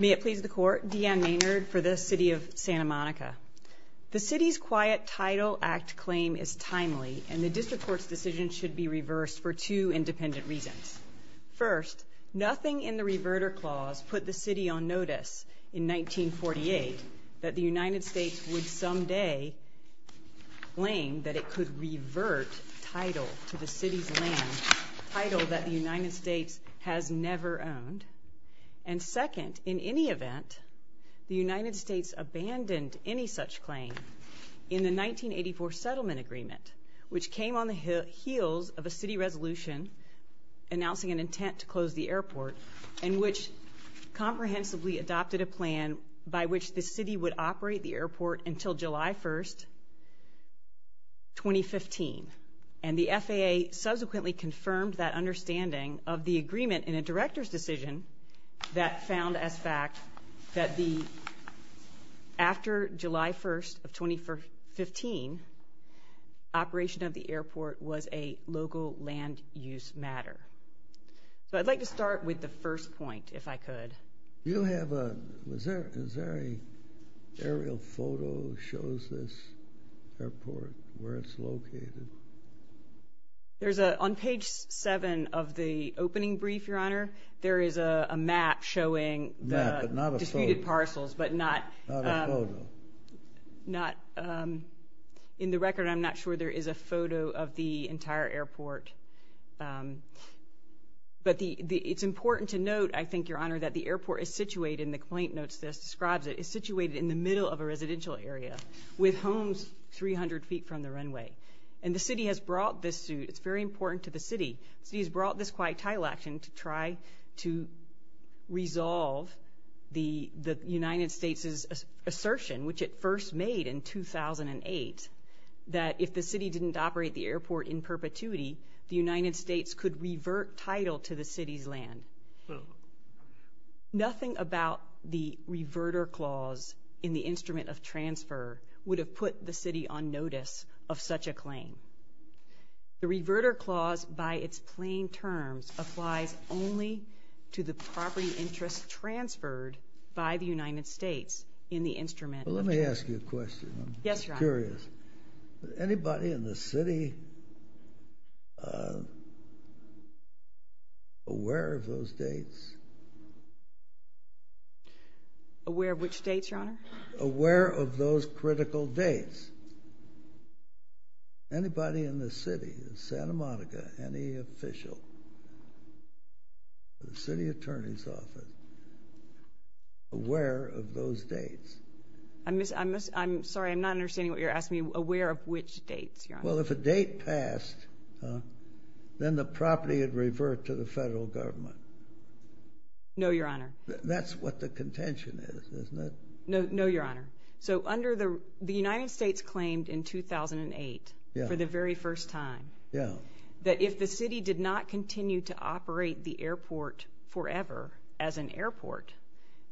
May it please the Court, Deanne Maynard for the City of Santa Monica. The City's Quiet Title Act claim is timely and the District Court's decision should be reversed for two independent reasons. First, nothing in the Reverter Clause put the City on notice in 1948 that the United States would someday claim that it could revert title to the City's land, title that the City owned, and second, in any event, the United States abandoned any such claim in the 1984 Settlement Agreement, which came on the heels of a City resolution announcing an intent to close the airport and which comprehensively adopted a plan by which the City would operate the airport until July 1, 2015, and the FAA subsequently confirmed that understanding of the agreement in a Director's Decision that found as fact that after July 1, 2015, operation of the airport was a local land use matter. So I'd like to start with the first point, if I could. You have a, is there an aerial photo that shows this airport, where it's located? There's a, on page 7 of the opening brief, Your Honor, there is a map showing the disputed parcels, but not, in the record I'm not sure there is a photo of the entire airport, but it's important to note, I think, Your Honor, that the airport is situated, and the complaint notes this, describes it, is situated in the middle of a residential area with homes 300 feet from the runway. And the City has brought this to, it's very important to the City, the City has brought this quiet title action to try to resolve the United States' assertion, which it first made in 2008, that if the City didn't operate the airport in perpetuity, the United States could revert title to the City's land. Nothing about the reverter clause in the instrument of transfer would have put the City on notice of such a claim. The reverter clause, by its plain terms, applies only to the property interest transferred by the United States in the instrument of transfer. Let me ask you a question. Yes, Your Honor. I'm curious. Is anybody in the City aware of those dates? Aware of which dates, Your Honor? Aware of those critical dates. Anybody in the City of Santa Monica, any official, the City Attorney's Office, aware of those dates? I'm sorry, I'm not understanding what you're asking me. Aware of which dates, Your Honor? Well, if a date passed, then the property would revert to the federal government. No, Your Honor. That's what the contention is, isn't it? No, Your Honor. So, the United States claimed in 2008, for the very first time, that if the City did not continue to operate the airport forever as an airport,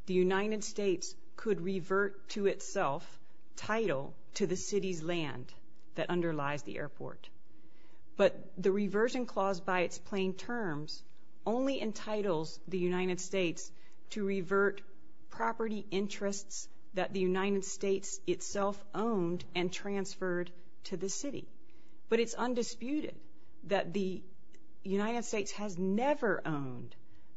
the United States could revert to itself title to the City's land that underlies the airport. But the reversion clause, by its plain terms, only entitles the United States to revert property interests that the United States itself owned and transferred to the City. But it's undisputed that the United States has never owned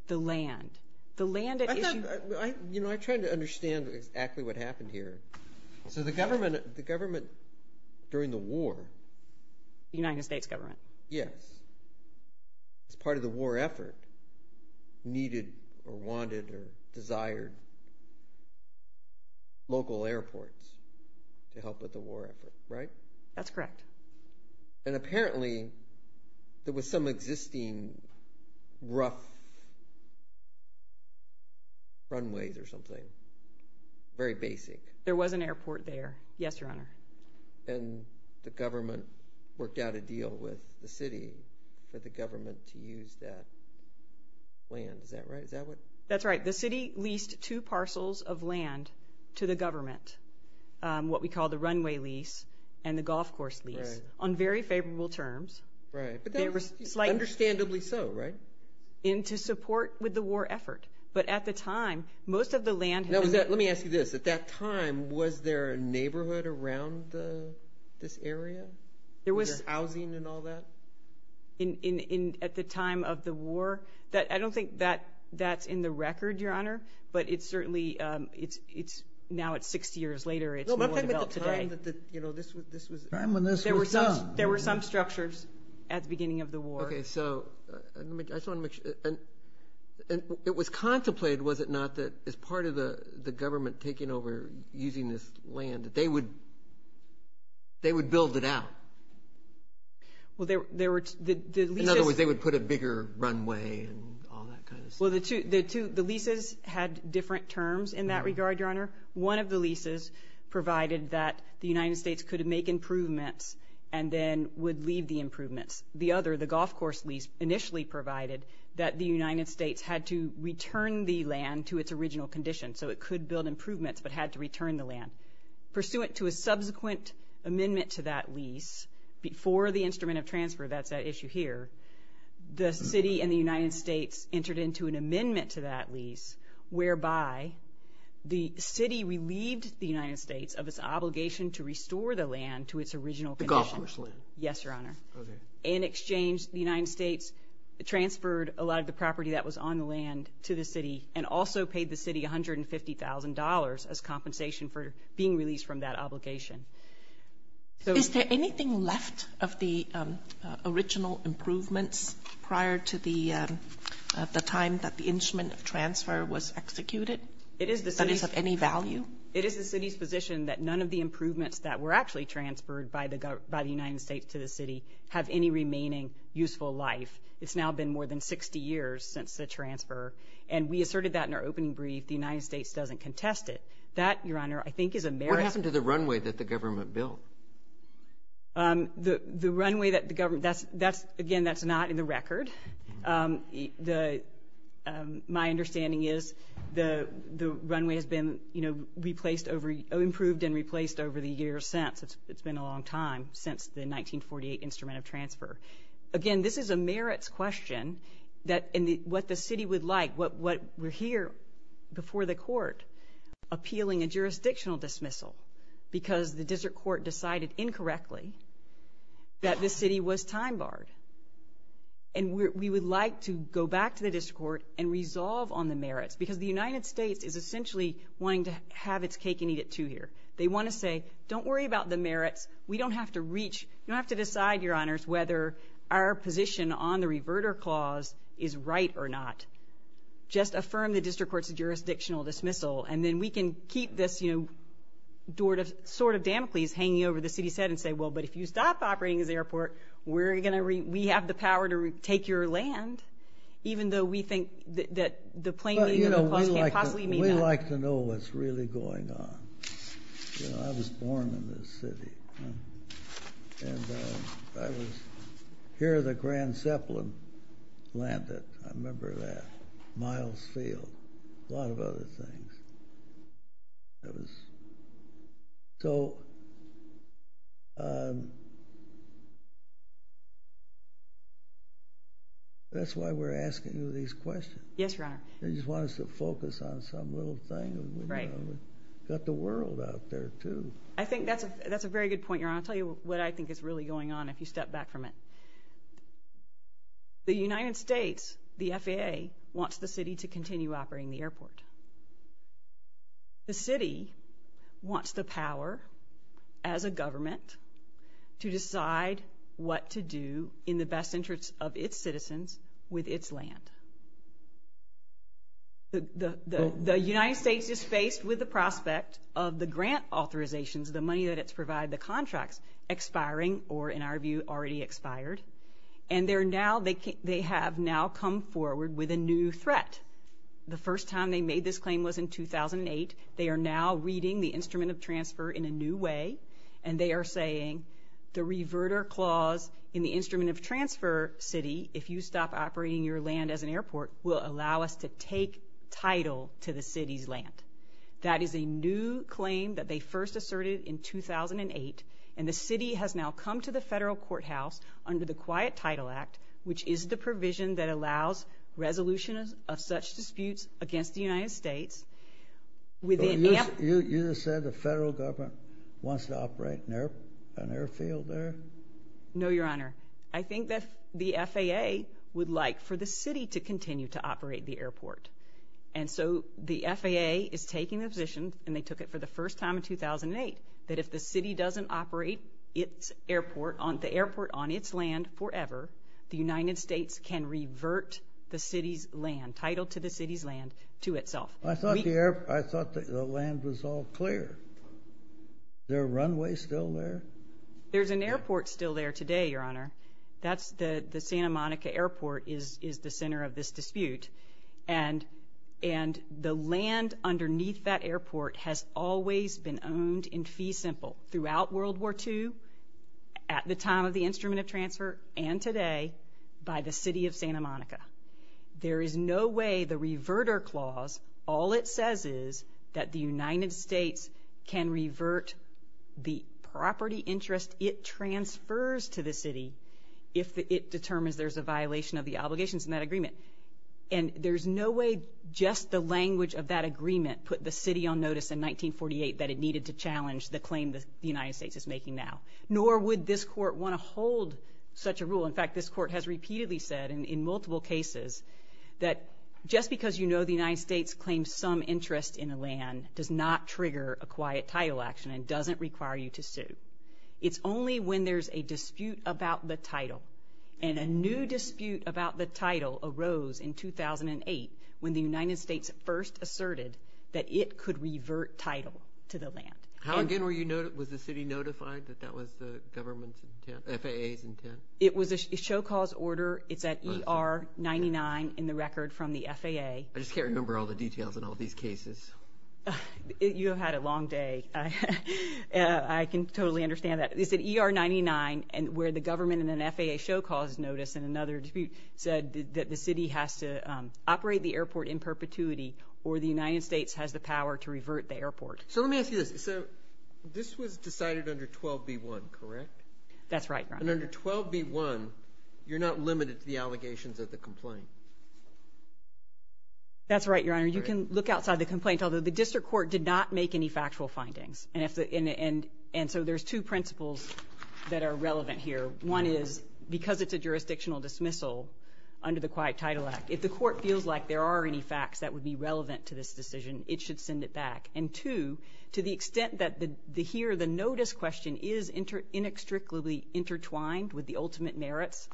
the land. The land that is used... I thought, you know, I'm trying to understand exactly what happened here. So, the government, the government during the war... The United States government? Yes. As part of the war effort, needed or wanted or desired local airports to help with the war effort. Right? That's correct. And apparently, there was some existing rough runways or something. Very basic. There was an airport there. Yes, Your Honor. And the government worked out a deal with the City for the government to use that land. Is that right? Is that what... That's right. The City leased two parcels of land to the government, what we call the runway lease and the golf course lease, on very favorable terms. Right. But that's understandably so, right? To support with the war effort. But at the time, most of the land... Now, let me ask you this. At that time, was there a neighborhood around this area? There was... Was there housing and all that? At the time of the war? I don't think that's in the record, Your Honor, but it's certainly... It's now, it's 60 years later, it's more developed today. No, but I'm talking about the time that this was... The time when this was done. There were some structures at the beginning of the war. Okay. So, I just want to make sure... It was contemplated, was it not, that as part of the government taking over using this land, they would build it out? In other words, they would put a bigger runway and all that kind of stuff? The leases had different terms in that regard, Your Honor. One of the leases provided that the United States could make improvements and then would leave the improvements. The other, the golf course lease, initially provided that the United States had to return the land to its original condition, so it could build improvements, but had to return the land. Pursuant to a subsequent amendment to that lease, before the instrument of transfer, that's that issue here, the city and the United States entered into an amendment to that lease whereby the city relieved the United States of its obligation to restore the land to its original condition. The golf course land? Yes, Your Honor. Okay. In exchange, the United States transferred a lot of the property that was on the land to the city and also paid the city $150,000 as compensation for being released from that obligation. Is there anything left of the original improvements prior to the time that the instrument of transfer was executed? It is the city's... That is of any value? It is the city's position that none of the improvements that were actually transferred by the United States to the city have any remaining useful life. It's now been more than 60 years since the transfer, and we asserted that in our opening brief. The United States doesn't contest it. That, Your Honor, I think is a merit... What happened to the runway that the government built? The runway that the government... Again, that's not in the record. My understanding is the runway has been improved and replaced over the years since. It's been a long time since the 1948 instrument of transfer. Again, this is a merits question. What the city would like, we're here before the court appealing a jurisdictional dismissal because the district court decided incorrectly that the city was time barred. We would like to go back to the district court and resolve on the merits because the United States is essentially wanting to have its cake and eat it too here. They want to say, don't worry about the merits. We don't have to reach... You don't have to decide, Your Honors, whether our position on the reverter clause is right or not. Just affirm the district court's jurisdictional dismissal, and then we can keep this sword of Damocles hanging over the city's head and say, well, but if you stop operating this airport, we have the power to take your land, even though we think that the plain name of the clause can't possibly mean that. I'd like to know what's really going on. I was born in this city, and here the Grand Zeppelin landed, I remember that, Miles Field, a lot of other things. That's why we're asking you these questions. Yes, Your Honor. They just want us to focus on some little thing, and we've got the world out there, too. I think that's a very good point, Your Honor. I'll tell you what I think is really going on if you step back from it. The United States, the FAA, wants the city to continue operating the airport. The city wants the power, as a government, to decide what to do in the best interest of its citizens with its land. The United States is faced with the prospect of the grant authorizations, the money that it's provided, the contracts, expiring or, in our view, already expired. And they have now come forward with a new threat. The first time they made this claim was in 2008. They are now reading the instrument of transfer in a new way, and they are saying the reverter clause in the instrument of transfer city, if you stop operating your land as an airport, will allow us to take title to the city's land. That is a new claim that they first asserted in 2008, and the city has now come to the federal courthouse under the Quiet Title Act, which is the provision that allows resolution of such disputes against the United States within AMP. You just said the federal government wants to operate an airfield there? No, Your Honor. I think that the FAA would like for the city to continue to operate the airport. And so the FAA is taking the position, and they took it for the first time in 2008, that if the city doesn't operate the airport on its land forever, the United States can revert the city's land, title to the city's land, to itself. I thought the land was all clear. Is there a runway still there? There's an airport still there today, Your Honor. That's the Santa Monica Airport is the center of this dispute. And the land underneath that airport has always been owned in fee simple, throughout World War II, at the time of the instrument of transfer, and today, by the city of Santa Monica. There is no way the reverter clause, all it says is that the United States can revert the property interest it transfers to the city if it determines there's a violation of the obligations in that agreement. And there's no way just the language of that agreement put the city on notice in 1948 that it needed to challenge the claim the United States is making now. Nor would this court want to hold such a rule. In fact, this court has repeatedly said, in multiple cases, that just because you know the United States claims some interest in a land does not trigger a quiet title action and doesn't require you to sue. It's only when there's a dispute about the title, and a new dispute about the title arose in 2008 when the United States first asserted that it could revert title to the land. How again was the city notified that that was the government's intent, FAA's intent? It was a show cause order. It's at ER 99 in the record from the FAA. I just can't remember all the details in all these cases. You have had a long day. I can totally understand that. It's at ER 99 and where the government in an FAA show cause notice in another dispute said that the city has to operate the airport in perpetuity or the United States has the power to revert the airport. So let me ask you this. This was decided under 12B1, correct? That's right, Your Honor. And under 12B1, you're not limited to the allegations of the complaint. That's right, Your Honor. You can look outside the complaint. Although the district court did not make any factual findings. And so there's two principles that are relevant here. One is because it's a jurisdictional dismissal under the Quiet Title Act, if the court feels like there are any facts that would be relevant to this decision, it should send it back. And two, to the extent that here the notice question is inextricably intertwined with the ultimate merits,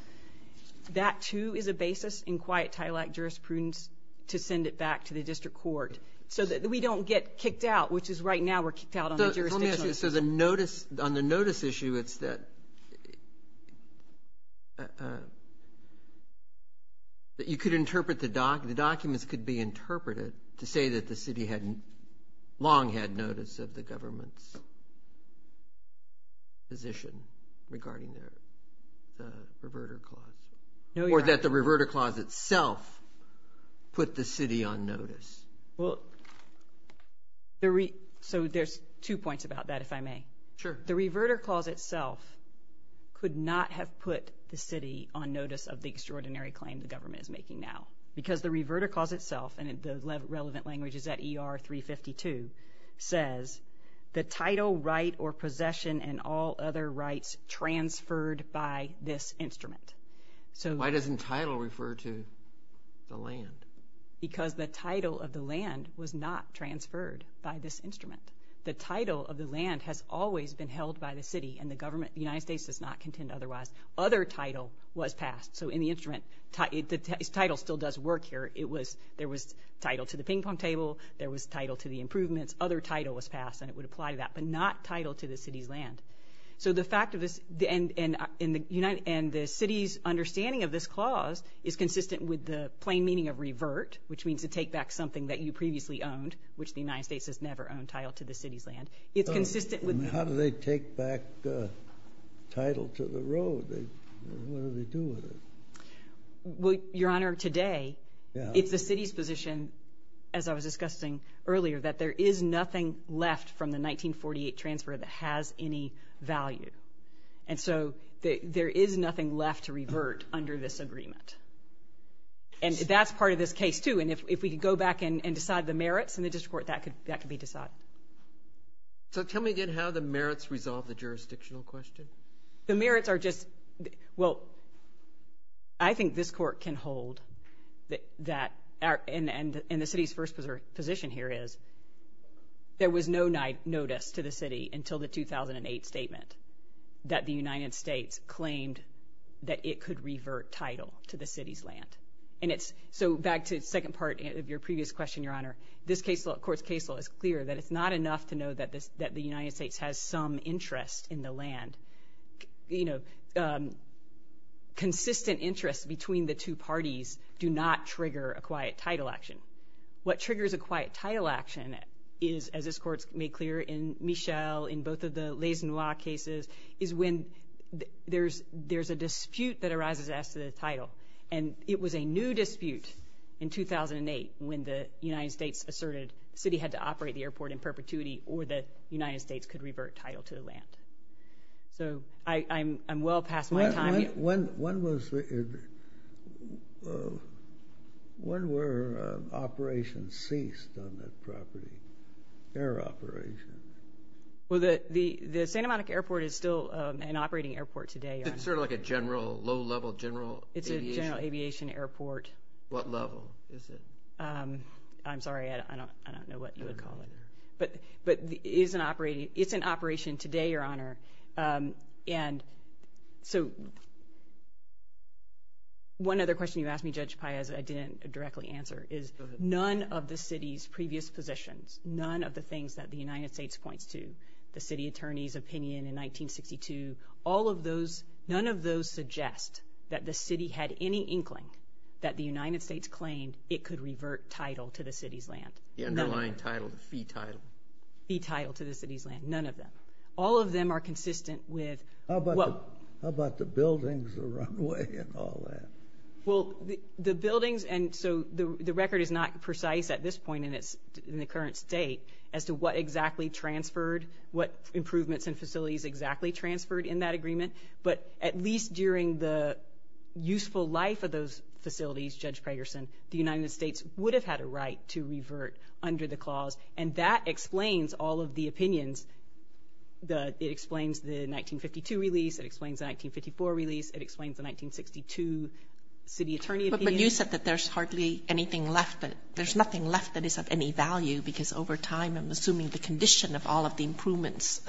that too is a basis in Quiet Title Act jurisprudence to send it back to the district court so that we don't get kicked out, which is right now we're kicked out on the jurisdictional issue. So let me ask you. So the notice, on the notice issue, it's that you could interpret the doc, the documents could be interpreted to say that the city had long had notice of the government's position regarding the reverter clause. Or that the reverter clause itself put the city on notice. So there's two points about that, if I may. The reverter clause itself could not have put the city on notice of the extraordinary claim the government is making now. Because the reverter clause itself, and the relevant language is at ER 352, says, the title, right, or possession, and all other rights transferred by this instrument. So why doesn't title refer to the land? Because the title of the land was not transferred by this instrument. The title of the land has always been held by the city, and the government, the United States does not contend otherwise. Other title was passed. So in the instrument, the title still does work here. It was, there was title to the ping pong table, there was title to the improvements, other title was passed, and it would apply to that, but not title to the city's land. So the fact of this, and the city's understanding of this clause is consistent with the plain meaning of revert, which means to take back something that you previously owned, which the United States has never owned, title to the city's land. It's consistent with- Well, Your Honor, today, it's the city's position, as I was discussing earlier, that there is nothing left from the 1948 transfer that has any value. And so there is nothing left to revert under this agreement. And that's part of this case, too, and if we could go back and decide the merits in the district court, that could be decided. So tell me again how the merits resolve the jurisdictional question. The merits are just, well, I think this court can hold that, and the city's first position here is, there was no notice to the city until the 2008 statement that the United States claimed that it could revert title to the city's land. And it's, so back to the second part of your previous question, Your Honor, this case law, court's case law is clear that it's not enough to know that the United States has some interest in the land. You know, consistent interests between the two parties do not trigger a quiet title action. What triggers a quiet title action is, as this court's made clear in Michel, in both of the Leys-Noirs cases, is when there's a dispute that arises as to the title. And it was a new dispute in 2008 when the United States asserted the city had to operate the airport in perpetuity or the United States could revert title to the land. So I'm well past my time. When was, when were operations ceased on that property, air operations? Well the Santa Monica Airport is still an operating airport today, Your Honor. It's sort of like a general, low-level general aviation? It's a general aviation airport. What level is it? I'm sorry, I don't know what you would call it. But it is an operating, it's in operation today, Your Honor. And so one other question you asked me, Judge Paez, I didn't directly answer, is none of the city's previous positions, none of the things that the United States points to, the city attorney's opinion in 1962, all of those, none of those suggest that the city had any that the United States claimed it could revert title to the city's land. The underlying title, the fee title. Fee title to the city's land, none of them. All of them are consistent with... How about the buildings, the runway, and all that? Well the buildings, and so the record is not precise at this point in the current state as to what exactly transferred, what improvements and facilities exactly transferred in that those facilities, Judge Pragerson, the United States would have had a right to revert under the clause. And that explains all of the opinions. It explains the 1952 release, it explains the 1954 release, it explains the 1962 city attorney opinion. But you said that there's hardly anything left, that there's nothing left that is of any value, because over time, I'm assuming the condition of all of the improvements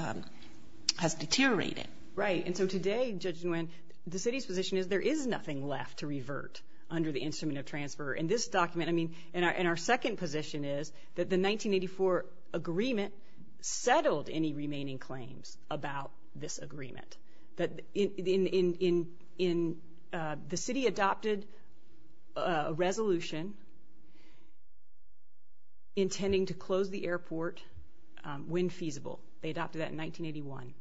has deteriorated. Right. And so today, Judge Nguyen, the city's position is there is nothing left to revert under the instrument of transfer. In this document, I mean, and our second position is that the 1984 agreement settled any remaining claims about this agreement. The city adopted a resolution intending to close the airport when feasible. They adopted that in 1981.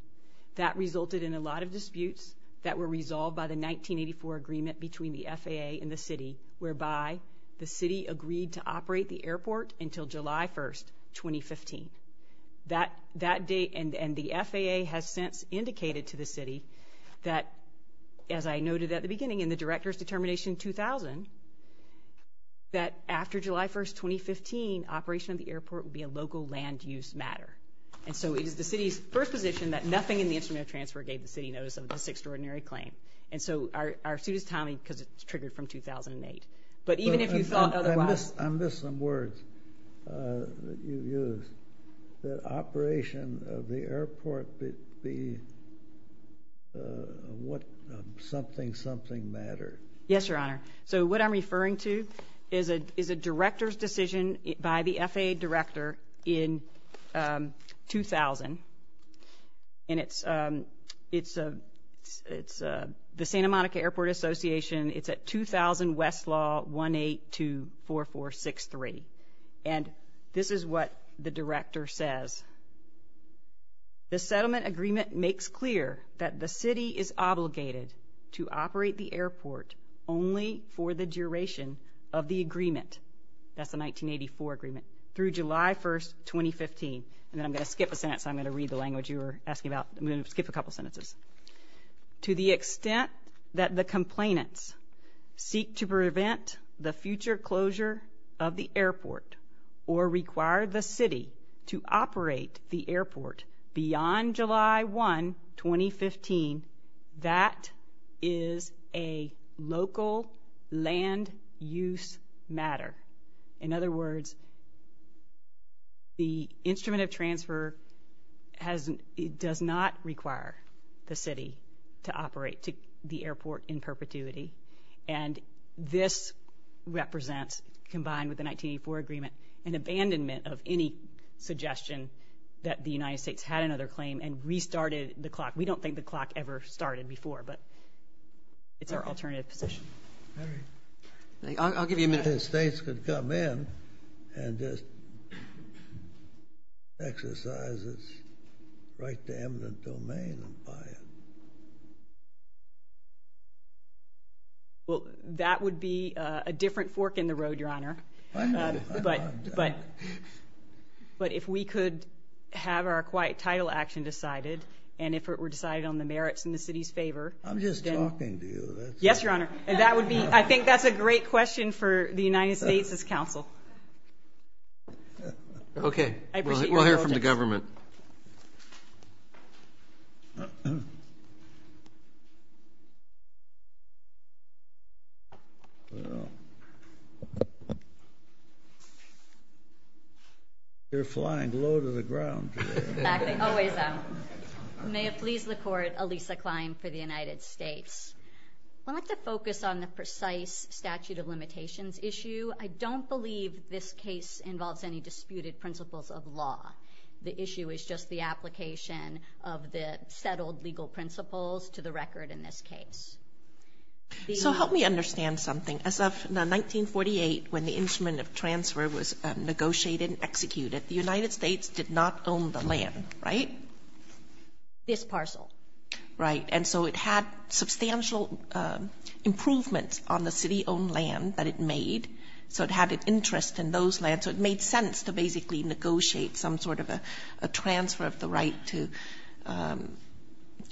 That resulted in a lot of disputes that were resolved by the 1984 agreement between the FAA and the city, whereby the city agreed to operate the airport until July 1st, 2015. That date, and the FAA has since indicated to the city that, as I noted at the beginning in the Director's Determination 2000, that after July 1st, 2015, operation of the airport would be a local land use matter. And so it is the city's first position that nothing in the instrument of transfer gave the city notice of this extraordinary claim. And so our suit is timely, because it's triggered from 2008. But even if you thought otherwise... I missed some words that you used. That operation of the airport would be something, something mattered. Yes, Your Honor. So what I'm referring to is a Director's decision by the FAA Director in 2000. And it's the Santa Monica Airport Association. It's at 2000 Westlaw 1824463. And this is what the Director says. The settlement agreement makes clear that the city is obligated to operate the airport only for the duration of the agreement, that's the 1984 agreement, through July 1st, 2015. And then I'm going to skip a sentence, I'm going to read the language you were asking about. I'm going to skip a couple sentences. To the extent that the complainants seek to prevent the future closure of the airport or require the city to operate the airport beyond July 1, 2015, that is a local land use matter. In other words, the instrument of transfer does not require the city to operate the airport in perpetuity. And this represents, combined with the 1984 agreement, an abandonment of any suggestion that the United States had another claim and restarted the clock. We don't think the clock ever started before, but it's our alternative position. Mary. I'll give you a minute. If the states could come in and just exercise its right to eminent domain and buy it. Well, that would be a different fork in the road, Your Honor. But if we could have our quiet title action decided, and if it were decided on the merits in the city's favor. I'm just talking to you. Yes, Your Honor. And that would be, I think that's a great question for the United States as counsel. Okay. I appreciate your logic. Counsel to the government. You're flying low to the ground. May it please the court, Elisa Klein for the United States. Well, I'd like to focus on the precise statute of limitations issue. I don't believe this case involves any disputed principles of law. The issue is just the application of the settled legal principles to the record in this case. So help me understand something. As of 1948, when the instrument of transfer was negotiated and executed, the United States did not own the land, right? This parcel. Right. And so it had substantial improvements on the city-owned land that it made, so it had an interest in those lands. So it made sense to basically negotiate some sort of a transfer of the right to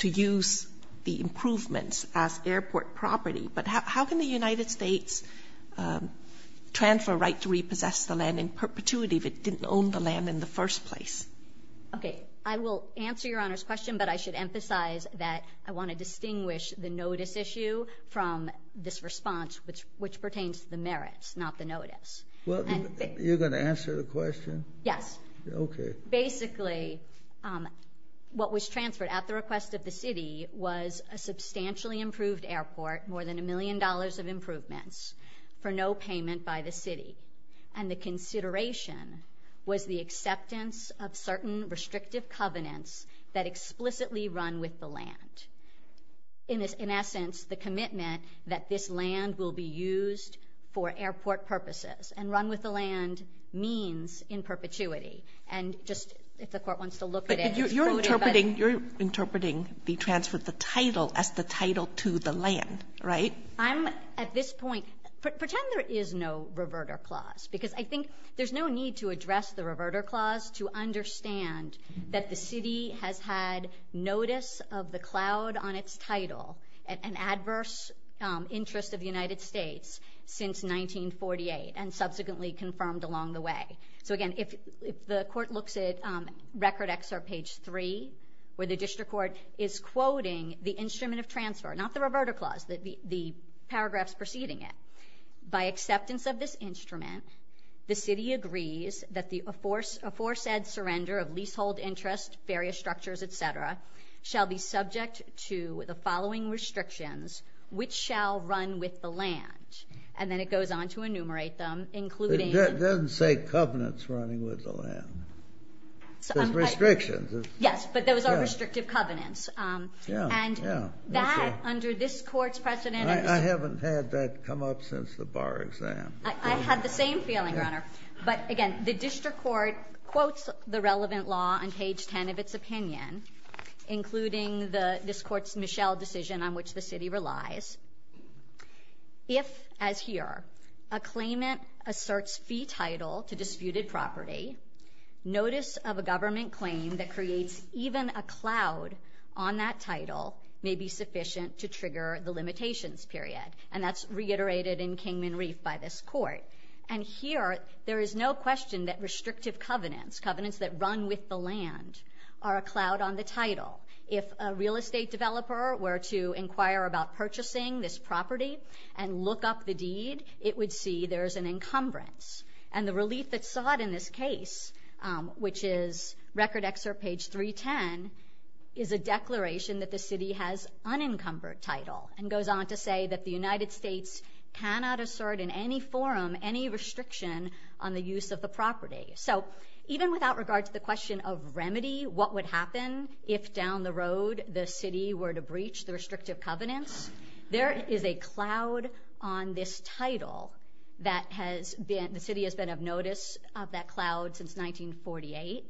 use the improvements as airport property. But how can the United States transfer a right to repossess the land in perpetuity if it didn't own the land in the first place? Okay. I will answer Your Honor's question, but I should emphasize that I want to distinguish the notice issue from this response, which pertains to the merits, not the notice. Well, you're going to answer the question? Yes. Okay. Basically, what was transferred at the request of the city was a substantially improved airport, more than a million dollars of improvements, for no payment by the city. And the consideration was the acceptance of certain restrictive covenants that explicitly run with the land. In essence, the commitment that this land will be used for airport purposes and run with the land means in perpetuity. And just if the Court wants to look at it. But you're interpreting the transfer of the title as the title to the land, right? At this point, pretend there is no reverter clause, because I think there's no need to address the reverter clause to understand that the city has had notice of the cloud on its title, an adverse interest of the United States since 1948, and subsequently confirmed along the way. So again, if the Court looks at Record XR page 3, where the District Court is quoting the instrument of transfer, not the reverter clause, the paragraphs preceding it, by acceptance of this instrument, the city agrees that the aforesaid surrender of leasehold interest, various structures, et cetera, shall be subject to the following restrictions, which shall run with the land. And then it goes on to enumerate them, including... It doesn't say covenants running with the land. There's restrictions. Yes, but those are restrictive covenants. And that, under this Court's precedent... I haven't had that come up since the bar exam. I had the same feeling, Your Honor. But again, the District Court quotes the relevant law on page 10 of its opinion, including this Court's Michel decision on which the city relies. If, as here, a claimant asserts fee title to disputed property, notice of a government claim that creates even a cloud on that title may be sufficient to trigger the limitations period. And that's reiterated in Kingman Reef by this Court. And here, there is no question that restrictive covenants, covenants that run with the land, are a cloud on the title. If a real estate developer were to inquire about purchasing this property and look up the deed, it would see there is an encumbrance. And the relief that's sought in this case, which is record excerpt page 310, is a declaration that the city has unencumbered title and goes on to say that the United States cannot assert in any forum any restriction on the use of the property. So even without regard to the question of remedy, what would happen if down the road the city were to breach the restrictive covenants, there is a cloud on this title that has been... the city has been of notice of that cloud since 1948.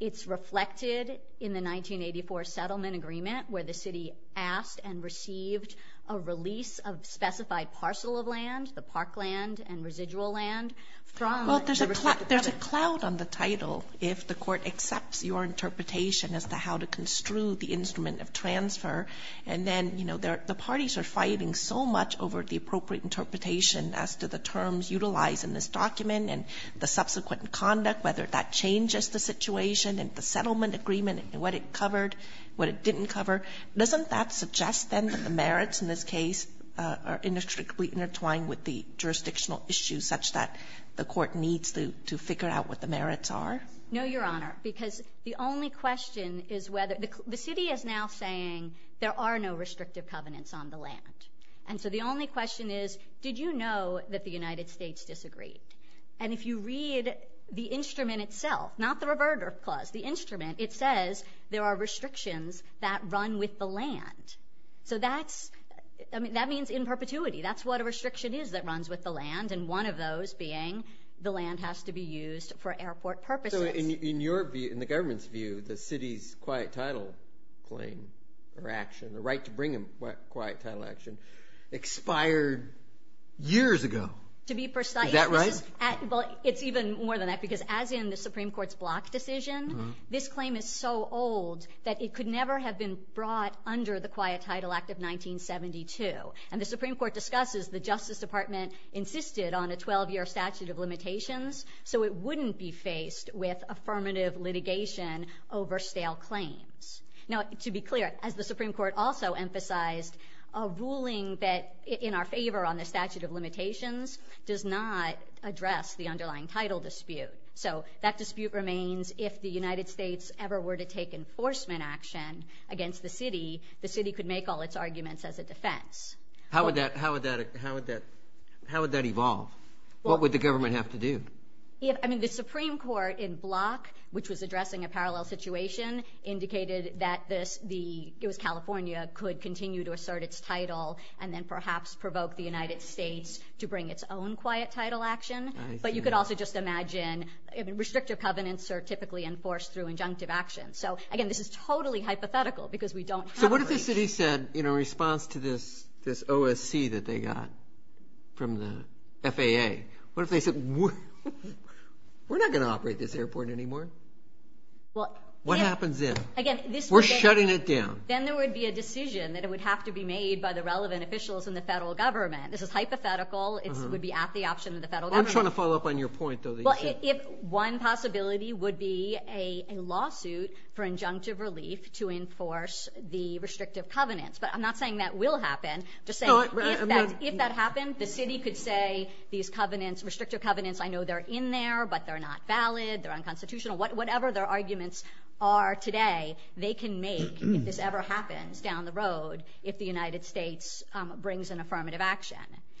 It's reflected in the 1984 settlement agreement where the city asked and received a release of specified parcel of land, the park land and residual land from the restrictive covenants. Well, there's a cloud on the title if the Court accepts your interpretation as to how to construe the instrument of transfer. And then, you know, the parties are fighting so much over the appropriate interpretation as to the terms utilized in this document and the subsequent conduct, whether that changes the situation and the settlement agreement and what it covered, what it didn't cover. Doesn't that suggest then that the merits in this case are inextricably intertwined with the jurisdictional issues such that the Court needs to figure out what the merits are? No, Your Honor, because the only question is whether the city is now saying there are no restrictive covenants on the land. And so the only question is, did you know that the United States disagreed? And if you read the instrument itself, not the reverter clause, the instrument, it says there are restrictions that run with the land. So that's, I mean, that means in perpetuity. That's what a restriction is that runs with the land, and one of those being the land has to be used for airport purposes. So in your view, in the government's view, the city's quiet title claim or action, the right to bring a quiet title action, expired years ago. To be precise. Is that right? Well, it's even more than that because as in the Supreme Court's block decision, this claim is so old that it could never have been brought under the Quiet Title Act of 1972. And the Supreme Court discusses the Justice Department insisted on a 12-year statute of limitations so it wouldn't be faced with affirmative litigation over stale claims. Now, to be clear, as the Supreme Court also emphasized, a ruling that in our favor on the statute of limitations does not address the underlying title dispute. So that dispute remains if the United States ever were to take enforcement action against the city, the city could make all its arguments as a defense. How would that evolve? What would the government have to do? I mean, the Supreme Court in block, which was addressing a parallel situation, indicated that it was California could continue to assert its title and then perhaps provoke the United States to bring its own quiet title action. But you could also just imagine restrictive covenants are typically enforced through injunctive action. So, again, this is totally hypothetical because we don't have a breach. So what if the city said in response to this OSC that they got from the FAA, what if they said we're not going to operate this airport anymore? What happens then? We're shutting it down. Then there would be a decision that it would have to be made by the relevant officials in the federal government. This is hypothetical. It would be at the option of the federal government. I'm trying to follow up on your point, though. If one possibility would be a lawsuit for injunctive relief to enforce the restrictive covenants. But I'm not saying that will happen. Just saying if that happened, the city could say these covenants, restrictive covenants, I know they're in there, but they're not valid. They're unconstitutional. Whatever their arguments are today, they can make if this ever happens down the road if the United States brings an affirmative action,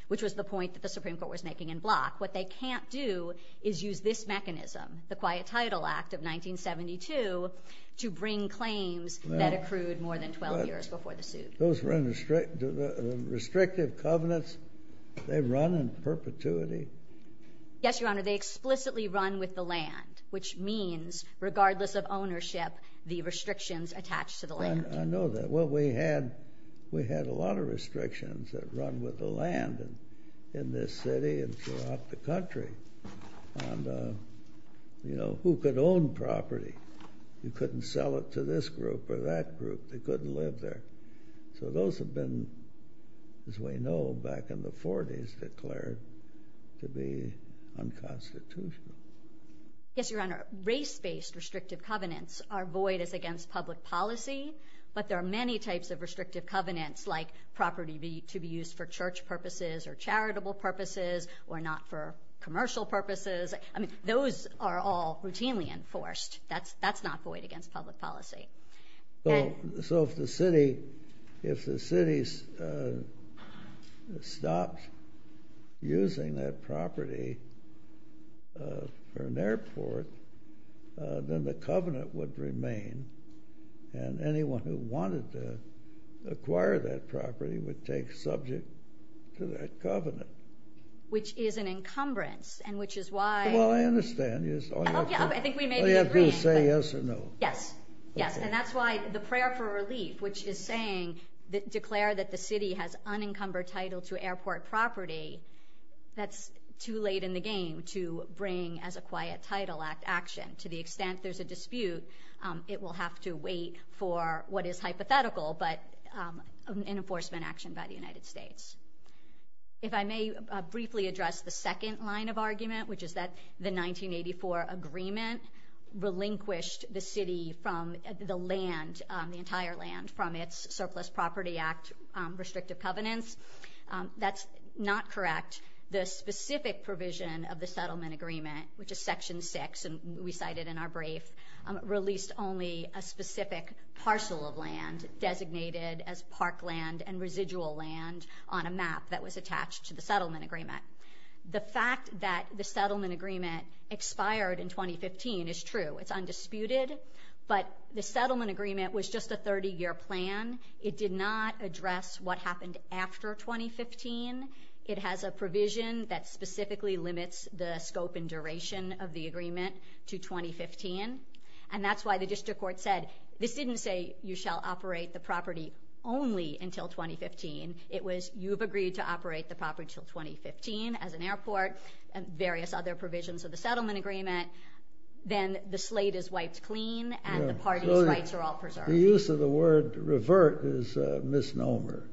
which was the point that the Supreme Court was making in Block. What they can't do is use this mechanism, the Quiet Title Act of 1972, to bring claims that accrued more than 12 years before the suit. Those restrictive covenants, they run in perpetuity? Yes, Your Honor. They explicitly run with the land, which means regardless of ownership, the restrictions attach to the land. I know that. Well, we had a lot of restrictions that run with the land in this city and throughout the country. Who could own property? You couldn't sell it to this group or that group. They couldn't live there. So those have been, as we know, back in the 40s, declared to be unconstitutional. Yes, Your Honor. Race-based restrictive covenants are void as against public policy, but there are many types of restrictive covenants like property to be used for church purposes or charitable purposes or not for commercial purposes. I mean, those are all routinely enforced. That's not void against public policy. So if the city stopped using that property for an airport, then the covenant would remain, and anyone who wanted to acquire that property would take subject to that covenant. Which is an encumbrance and which is why. Well, I understand. I think we may be agreeing. Did you say yes or no? Yes. Yes, and that's why the prayer for relief, which is declaring that the city has unencumbered title to airport property, that's too late in the game to bring as a quiet title action. To the extent there's a dispute, it will have to wait for what is hypothetical, but an enforcement action by the United States. If I may briefly address the second line of argument, which is that the 1984 agreement relinquished the city from the land, the entire land from its Surplus Property Act restrictive covenants. That's not correct. The specific provision of the settlement agreement, which is Section 6, and we cited in our brief, released only a specific parcel of land designated as parkland and residual land on a map that was attached to the settlement agreement. The fact that the settlement agreement expired in 2015 is true. It's undisputed, but the settlement agreement was just a 30-year plan. It did not address what happened after 2015. It has a provision that specifically limits the scope and duration of the agreement to 2015, and that's why the district court said this didn't say you shall operate the property only until 2015. It was you've agreed to operate the property until 2015 as an airport and various other provisions of the settlement agreement. Then the slate is wiped clean, and the party's rights are all preserved. The use of the word revert is a misnomer.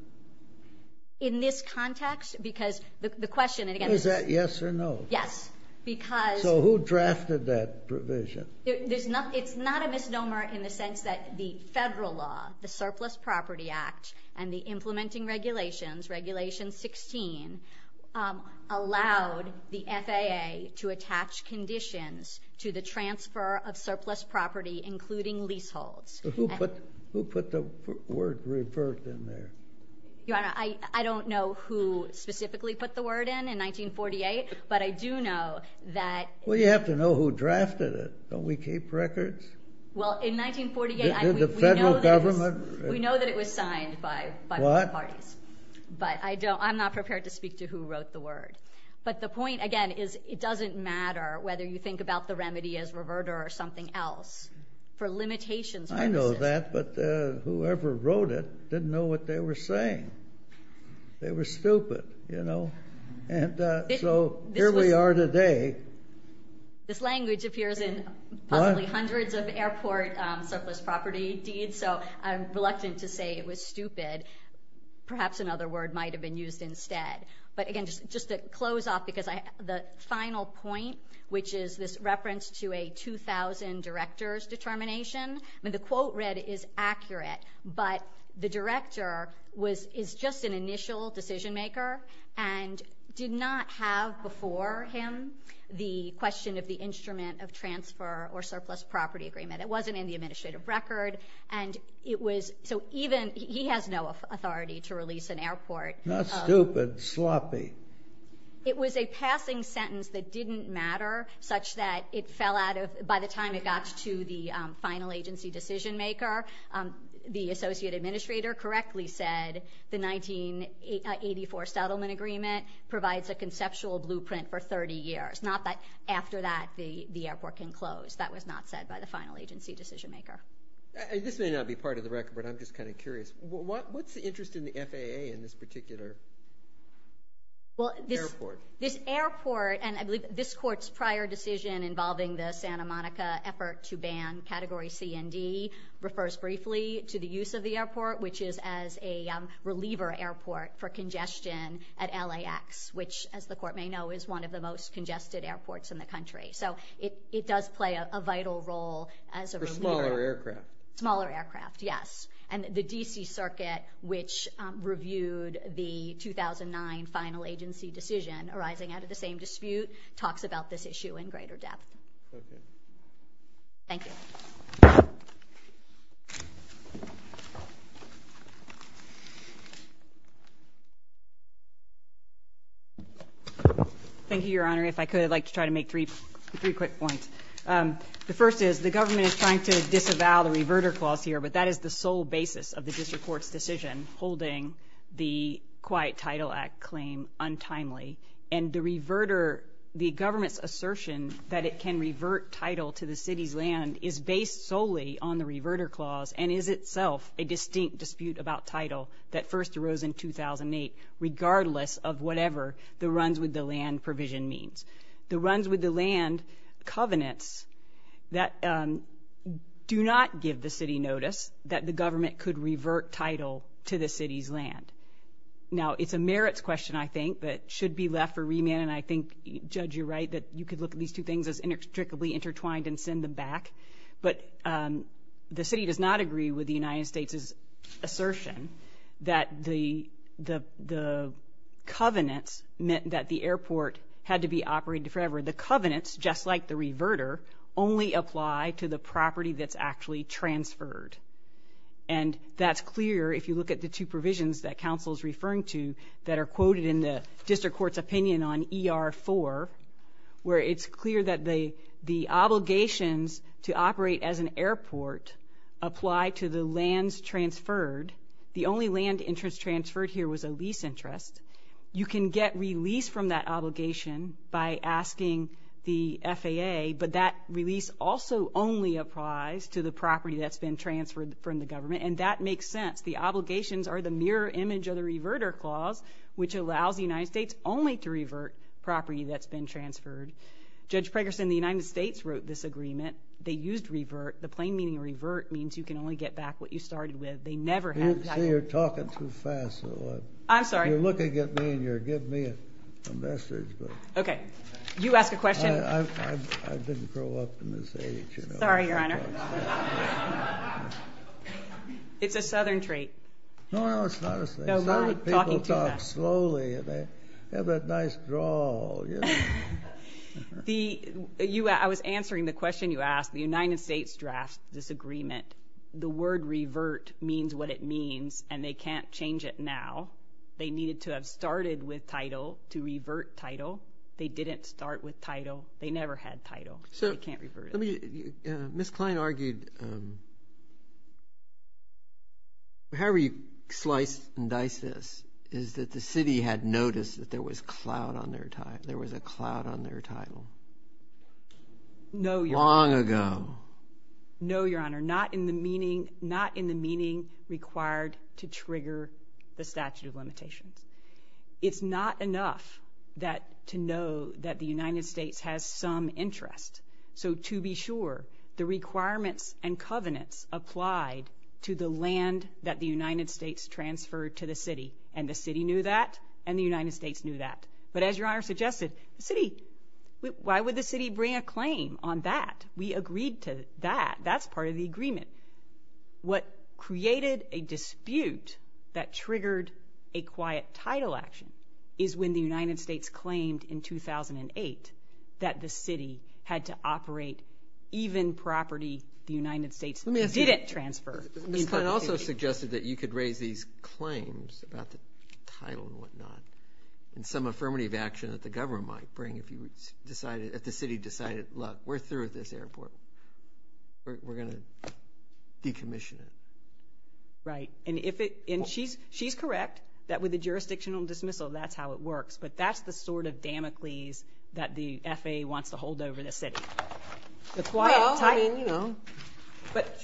In this context? Because the question, again... Is that yes or no? Yes, because... So who drafted that provision? It's not a misnomer in the sense that the federal law, the Surplus Property Act, and the implementing regulations, Regulation 16, allowed the FAA to attach conditions to the transfer of surplus property, including leaseholds. Who put the word revert in there? Your Honor, I don't know who specifically put the word in in 1948, but I do know that... Well, you have to know who drafted it. Don't we keep records? Well, in 1948... Did the federal government...? We know that it was signed by both parties. But I'm not prepared to speak to who wrote the word. But the point, again, is it doesn't matter whether you think about the remedy as reverter or something else. For limitations purposes... I know that, but whoever wrote it didn't know what they were saying. They were stupid, you know? So here we are today. This language appears in possibly hundreds of airport surplus property deeds, so I'm reluctant to say it was stupid. Perhaps another word might have been used instead. But again, just to close off, because the final point, which is this reference to a 2,000 directors determination, the quote read is accurate, but the director is just an initial decision maker and did not have before him the question of the instrument of transfer or surplus property agreement. It wasn't in the administrative record, and it was... So even... He has no authority to release an airport. Not stupid, sloppy. It was a passing sentence that didn't matter such that it fell out of... By the time it got to the final agency decision maker, the associate administrator correctly said the 1984 settlement agreement provides a conceptual blueprint for 30 years, not that after that the airport can close. That was not said by the final agency decision maker. This may not be part of the record, but I'm just kind of curious. What's the interest in the FAA in this particular airport? This airport, and I believe this court's prior decision involving the Santa Monica effort to ban Category C and D refers briefly to the use of the airport, which is as a reliever airport for congestion at LAX, which, as the court may know, is one of the most congested airports in the country. So it does play a vital role as a reliever. For smaller aircraft. Smaller aircraft, yes. And the D.C. Circuit, which reviewed the 2009 final agency decision arising out of the same dispute, talks about this issue in greater depth. Okay. Thank you. Thank you, Your Honor. If I could, I'd like to try to make three quick points. The first is the government is trying to disavow the reverter clause here, but that is the sole basis of the district court's decision holding the Quiet Title Act claim untimely. And the reverter, the government's assertion that it can revert title to the city's land is based solely on the reverter clause and is itself a distinct distinction. that first arose in 2008, regardless of whatever the runs with the land provision means. The runs with the land covenants that do not give the city notice that the government could revert title to the city's land. Now, it's a merits question, I think, that should be left for remand, and I think, Judge, you're right, that you could look at these two things as inextricably intertwined and send them back. But the city does not agree with the United States' assertion that the covenants meant that the airport had to be operated forever. The covenants, just like the reverter, only apply to the property that's actually transferred. And that's clear if you look at the two provisions that counsel's referring to that are quoted in the district court's opinion on ER-4, where it's clear that the obligations to operate as an airport apply to the lands transferred. The only land interest transferred here was a lease interest. You can get release from that obligation by asking the FAA, but that release also only applies to the property that's been transferred from the government, and that makes sense. The obligations are the mirror image of the reverter clause, which allows the United States only to revert property that's been transferred. Judge Pregerson, the United States wrote this agreement. They used revert. The plain meaning of revert means you can only get back what you started with. They never have that. See, you're talking too fast. I'm sorry. You're looking at me, and you're giving me a message. Okay. You ask a question. I didn't grow up in this age. Sorry, Your Honor. laughter It's a southern trait. No, no, it's not a thing. No, I'm talking to them. Southern people talk slowly, and they have that nice drawl, you know. I was answering the question you asked. The United States drafts this agreement. The word revert means what it means, and they can't change it now. They needed to have started with title to revert title. They didn't start with title. They never had title. They can't revert it. Ms. Kline argued... is that the city had noticed that there was a cloud on their title. No, Your Honor. Long ago. No, Your Honor. Not in the meaning required to trigger the statute of limitations. It's not enough to know that the United States has some interest. So to be sure, the requirements and covenants applied to the land that the United States transferred to the city, and the city knew that, and the United States knew that. But as Your Honor suggested, the city, why would the city bring a claim on that? We agreed to that. That's part of the agreement. What created a dispute that triggered a quiet title action is when the United States claimed in 2008 that the city had to operate even property the United States didn't transfer. Ms. Kline also suggested that you could raise these claims about the title and whatnot and some affirmative action that the government might bring if the city decided, look, we're through with this airport. We're going to decommission it. Right. And she's correct that with a jurisdictional dismissal, that's how it works. But that's the sort of damocles that the FAA wants to hold over the city. Well, I mean, you know. But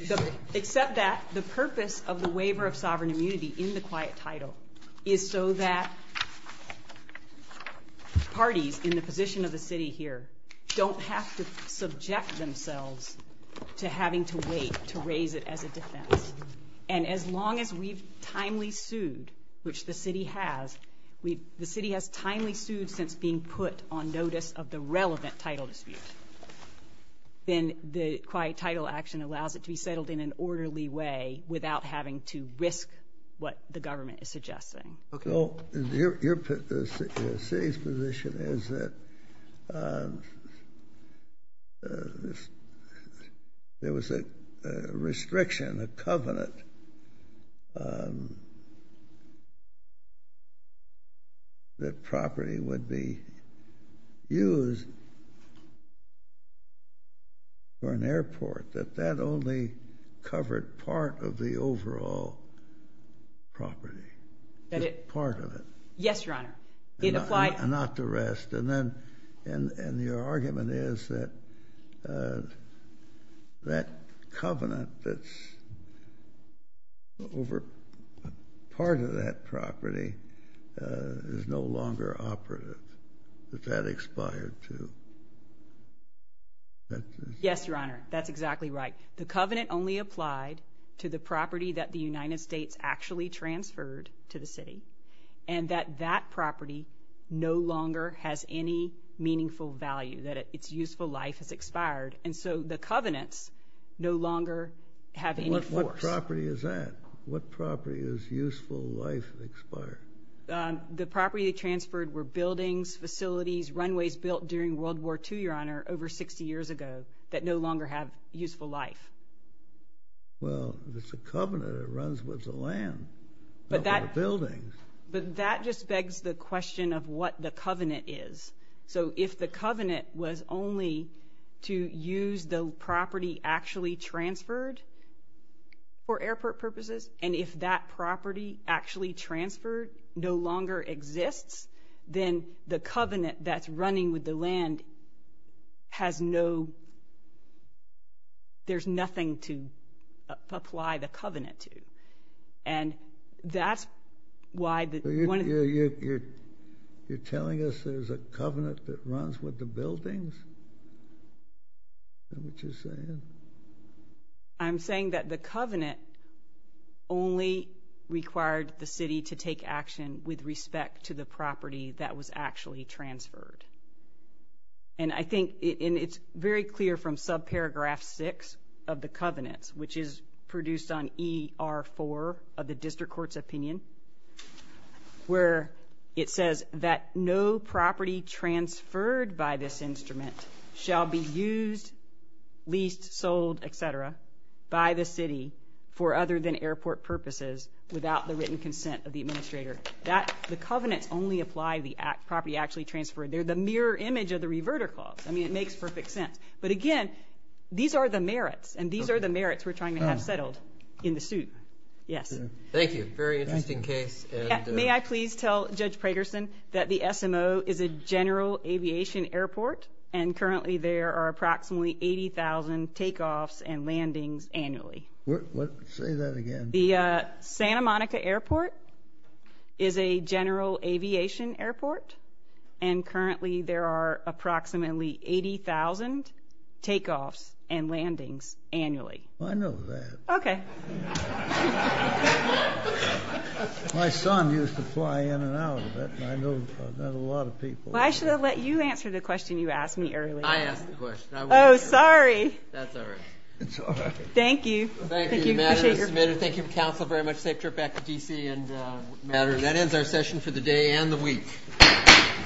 except that, the purpose of the waiver of sovereign immunity in the quiet title is so that parties in the position of the city here don't have to subject themselves to having to wait to raise it as a defense. And as long as we've timely sued, which the city has, the city has timely sued since being put on notice of the relevant title dispute, then the quiet title action allows it to be settled in an orderly way without having to risk what the government is suggesting. Well, the city's position is that there was a restriction, a covenant, that property would be used for an airport, that that only covered part of the overall property. Just part of it. Yes, Your Honor. And not the rest. And your argument is that that covenant that's over part of that property that that expired too. Yes, Your Honor. That's exactly right. The covenant only applied to the property that the United States actually transferred to the city, and that that property no longer has any meaningful value, that its useful life has expired. And so the covenants no longer have any force. What property is that? What property is useful life expired? The property transferred were buildings, facilities, runways built during World War II, Your Honor, over 60 years ago that no longer have useful life. Well, it's a covenant that runs with the land, not with the buildings. But that just begs the question of what the covenant is. So if the covenant was only to use the property actually transferred for airport purposes, and if that property actually transferred no longer exists, then the covenant that's running with the land has no... There's nothing to apply the covenant to. And that's why... You're telling us there's a covenant that runs with the buildings? Is that what you're saying? I'm saying that the covenant only required the city to take action with respect to the property that was actually transferred. And I think it's very clear from subparagraph 6 of the covenants, which is produced on ER4 of the district court's opinion, where it says that no property transferred by this instrument shall be used, leased, sold, etc. by the city for other than airport purposes without the written consent of the administrator. The covenants only apply the property actually transferred. They're the mirror image of the reverter clause. I mean, it makes perfect sense. But again, these are the merits, and these are the merits we're trying to have settled in the suit. Yes. Thank you. Very interesting case. May I please tell Judge Pragerson that the SMO is a general aviation airport, and currently there are approximately 80,000 takeoffs and landings annually. Say that again. The Santa Monica Airport is a general aviation airport, and currently there are approximately 80,000 takeoffs and landings annually. I know that. Okay. My son used to fly in and out of it, and I know that a lot of people... Why should I let you answer the question you asked me earlier? I asked the question. Oh, sorry. That's all right. It's all right. Thank you. Thank you, Madam. Thank you, counsel, very much. Safe trip back to D.C. And that ends our session for the day and the week. Thank you.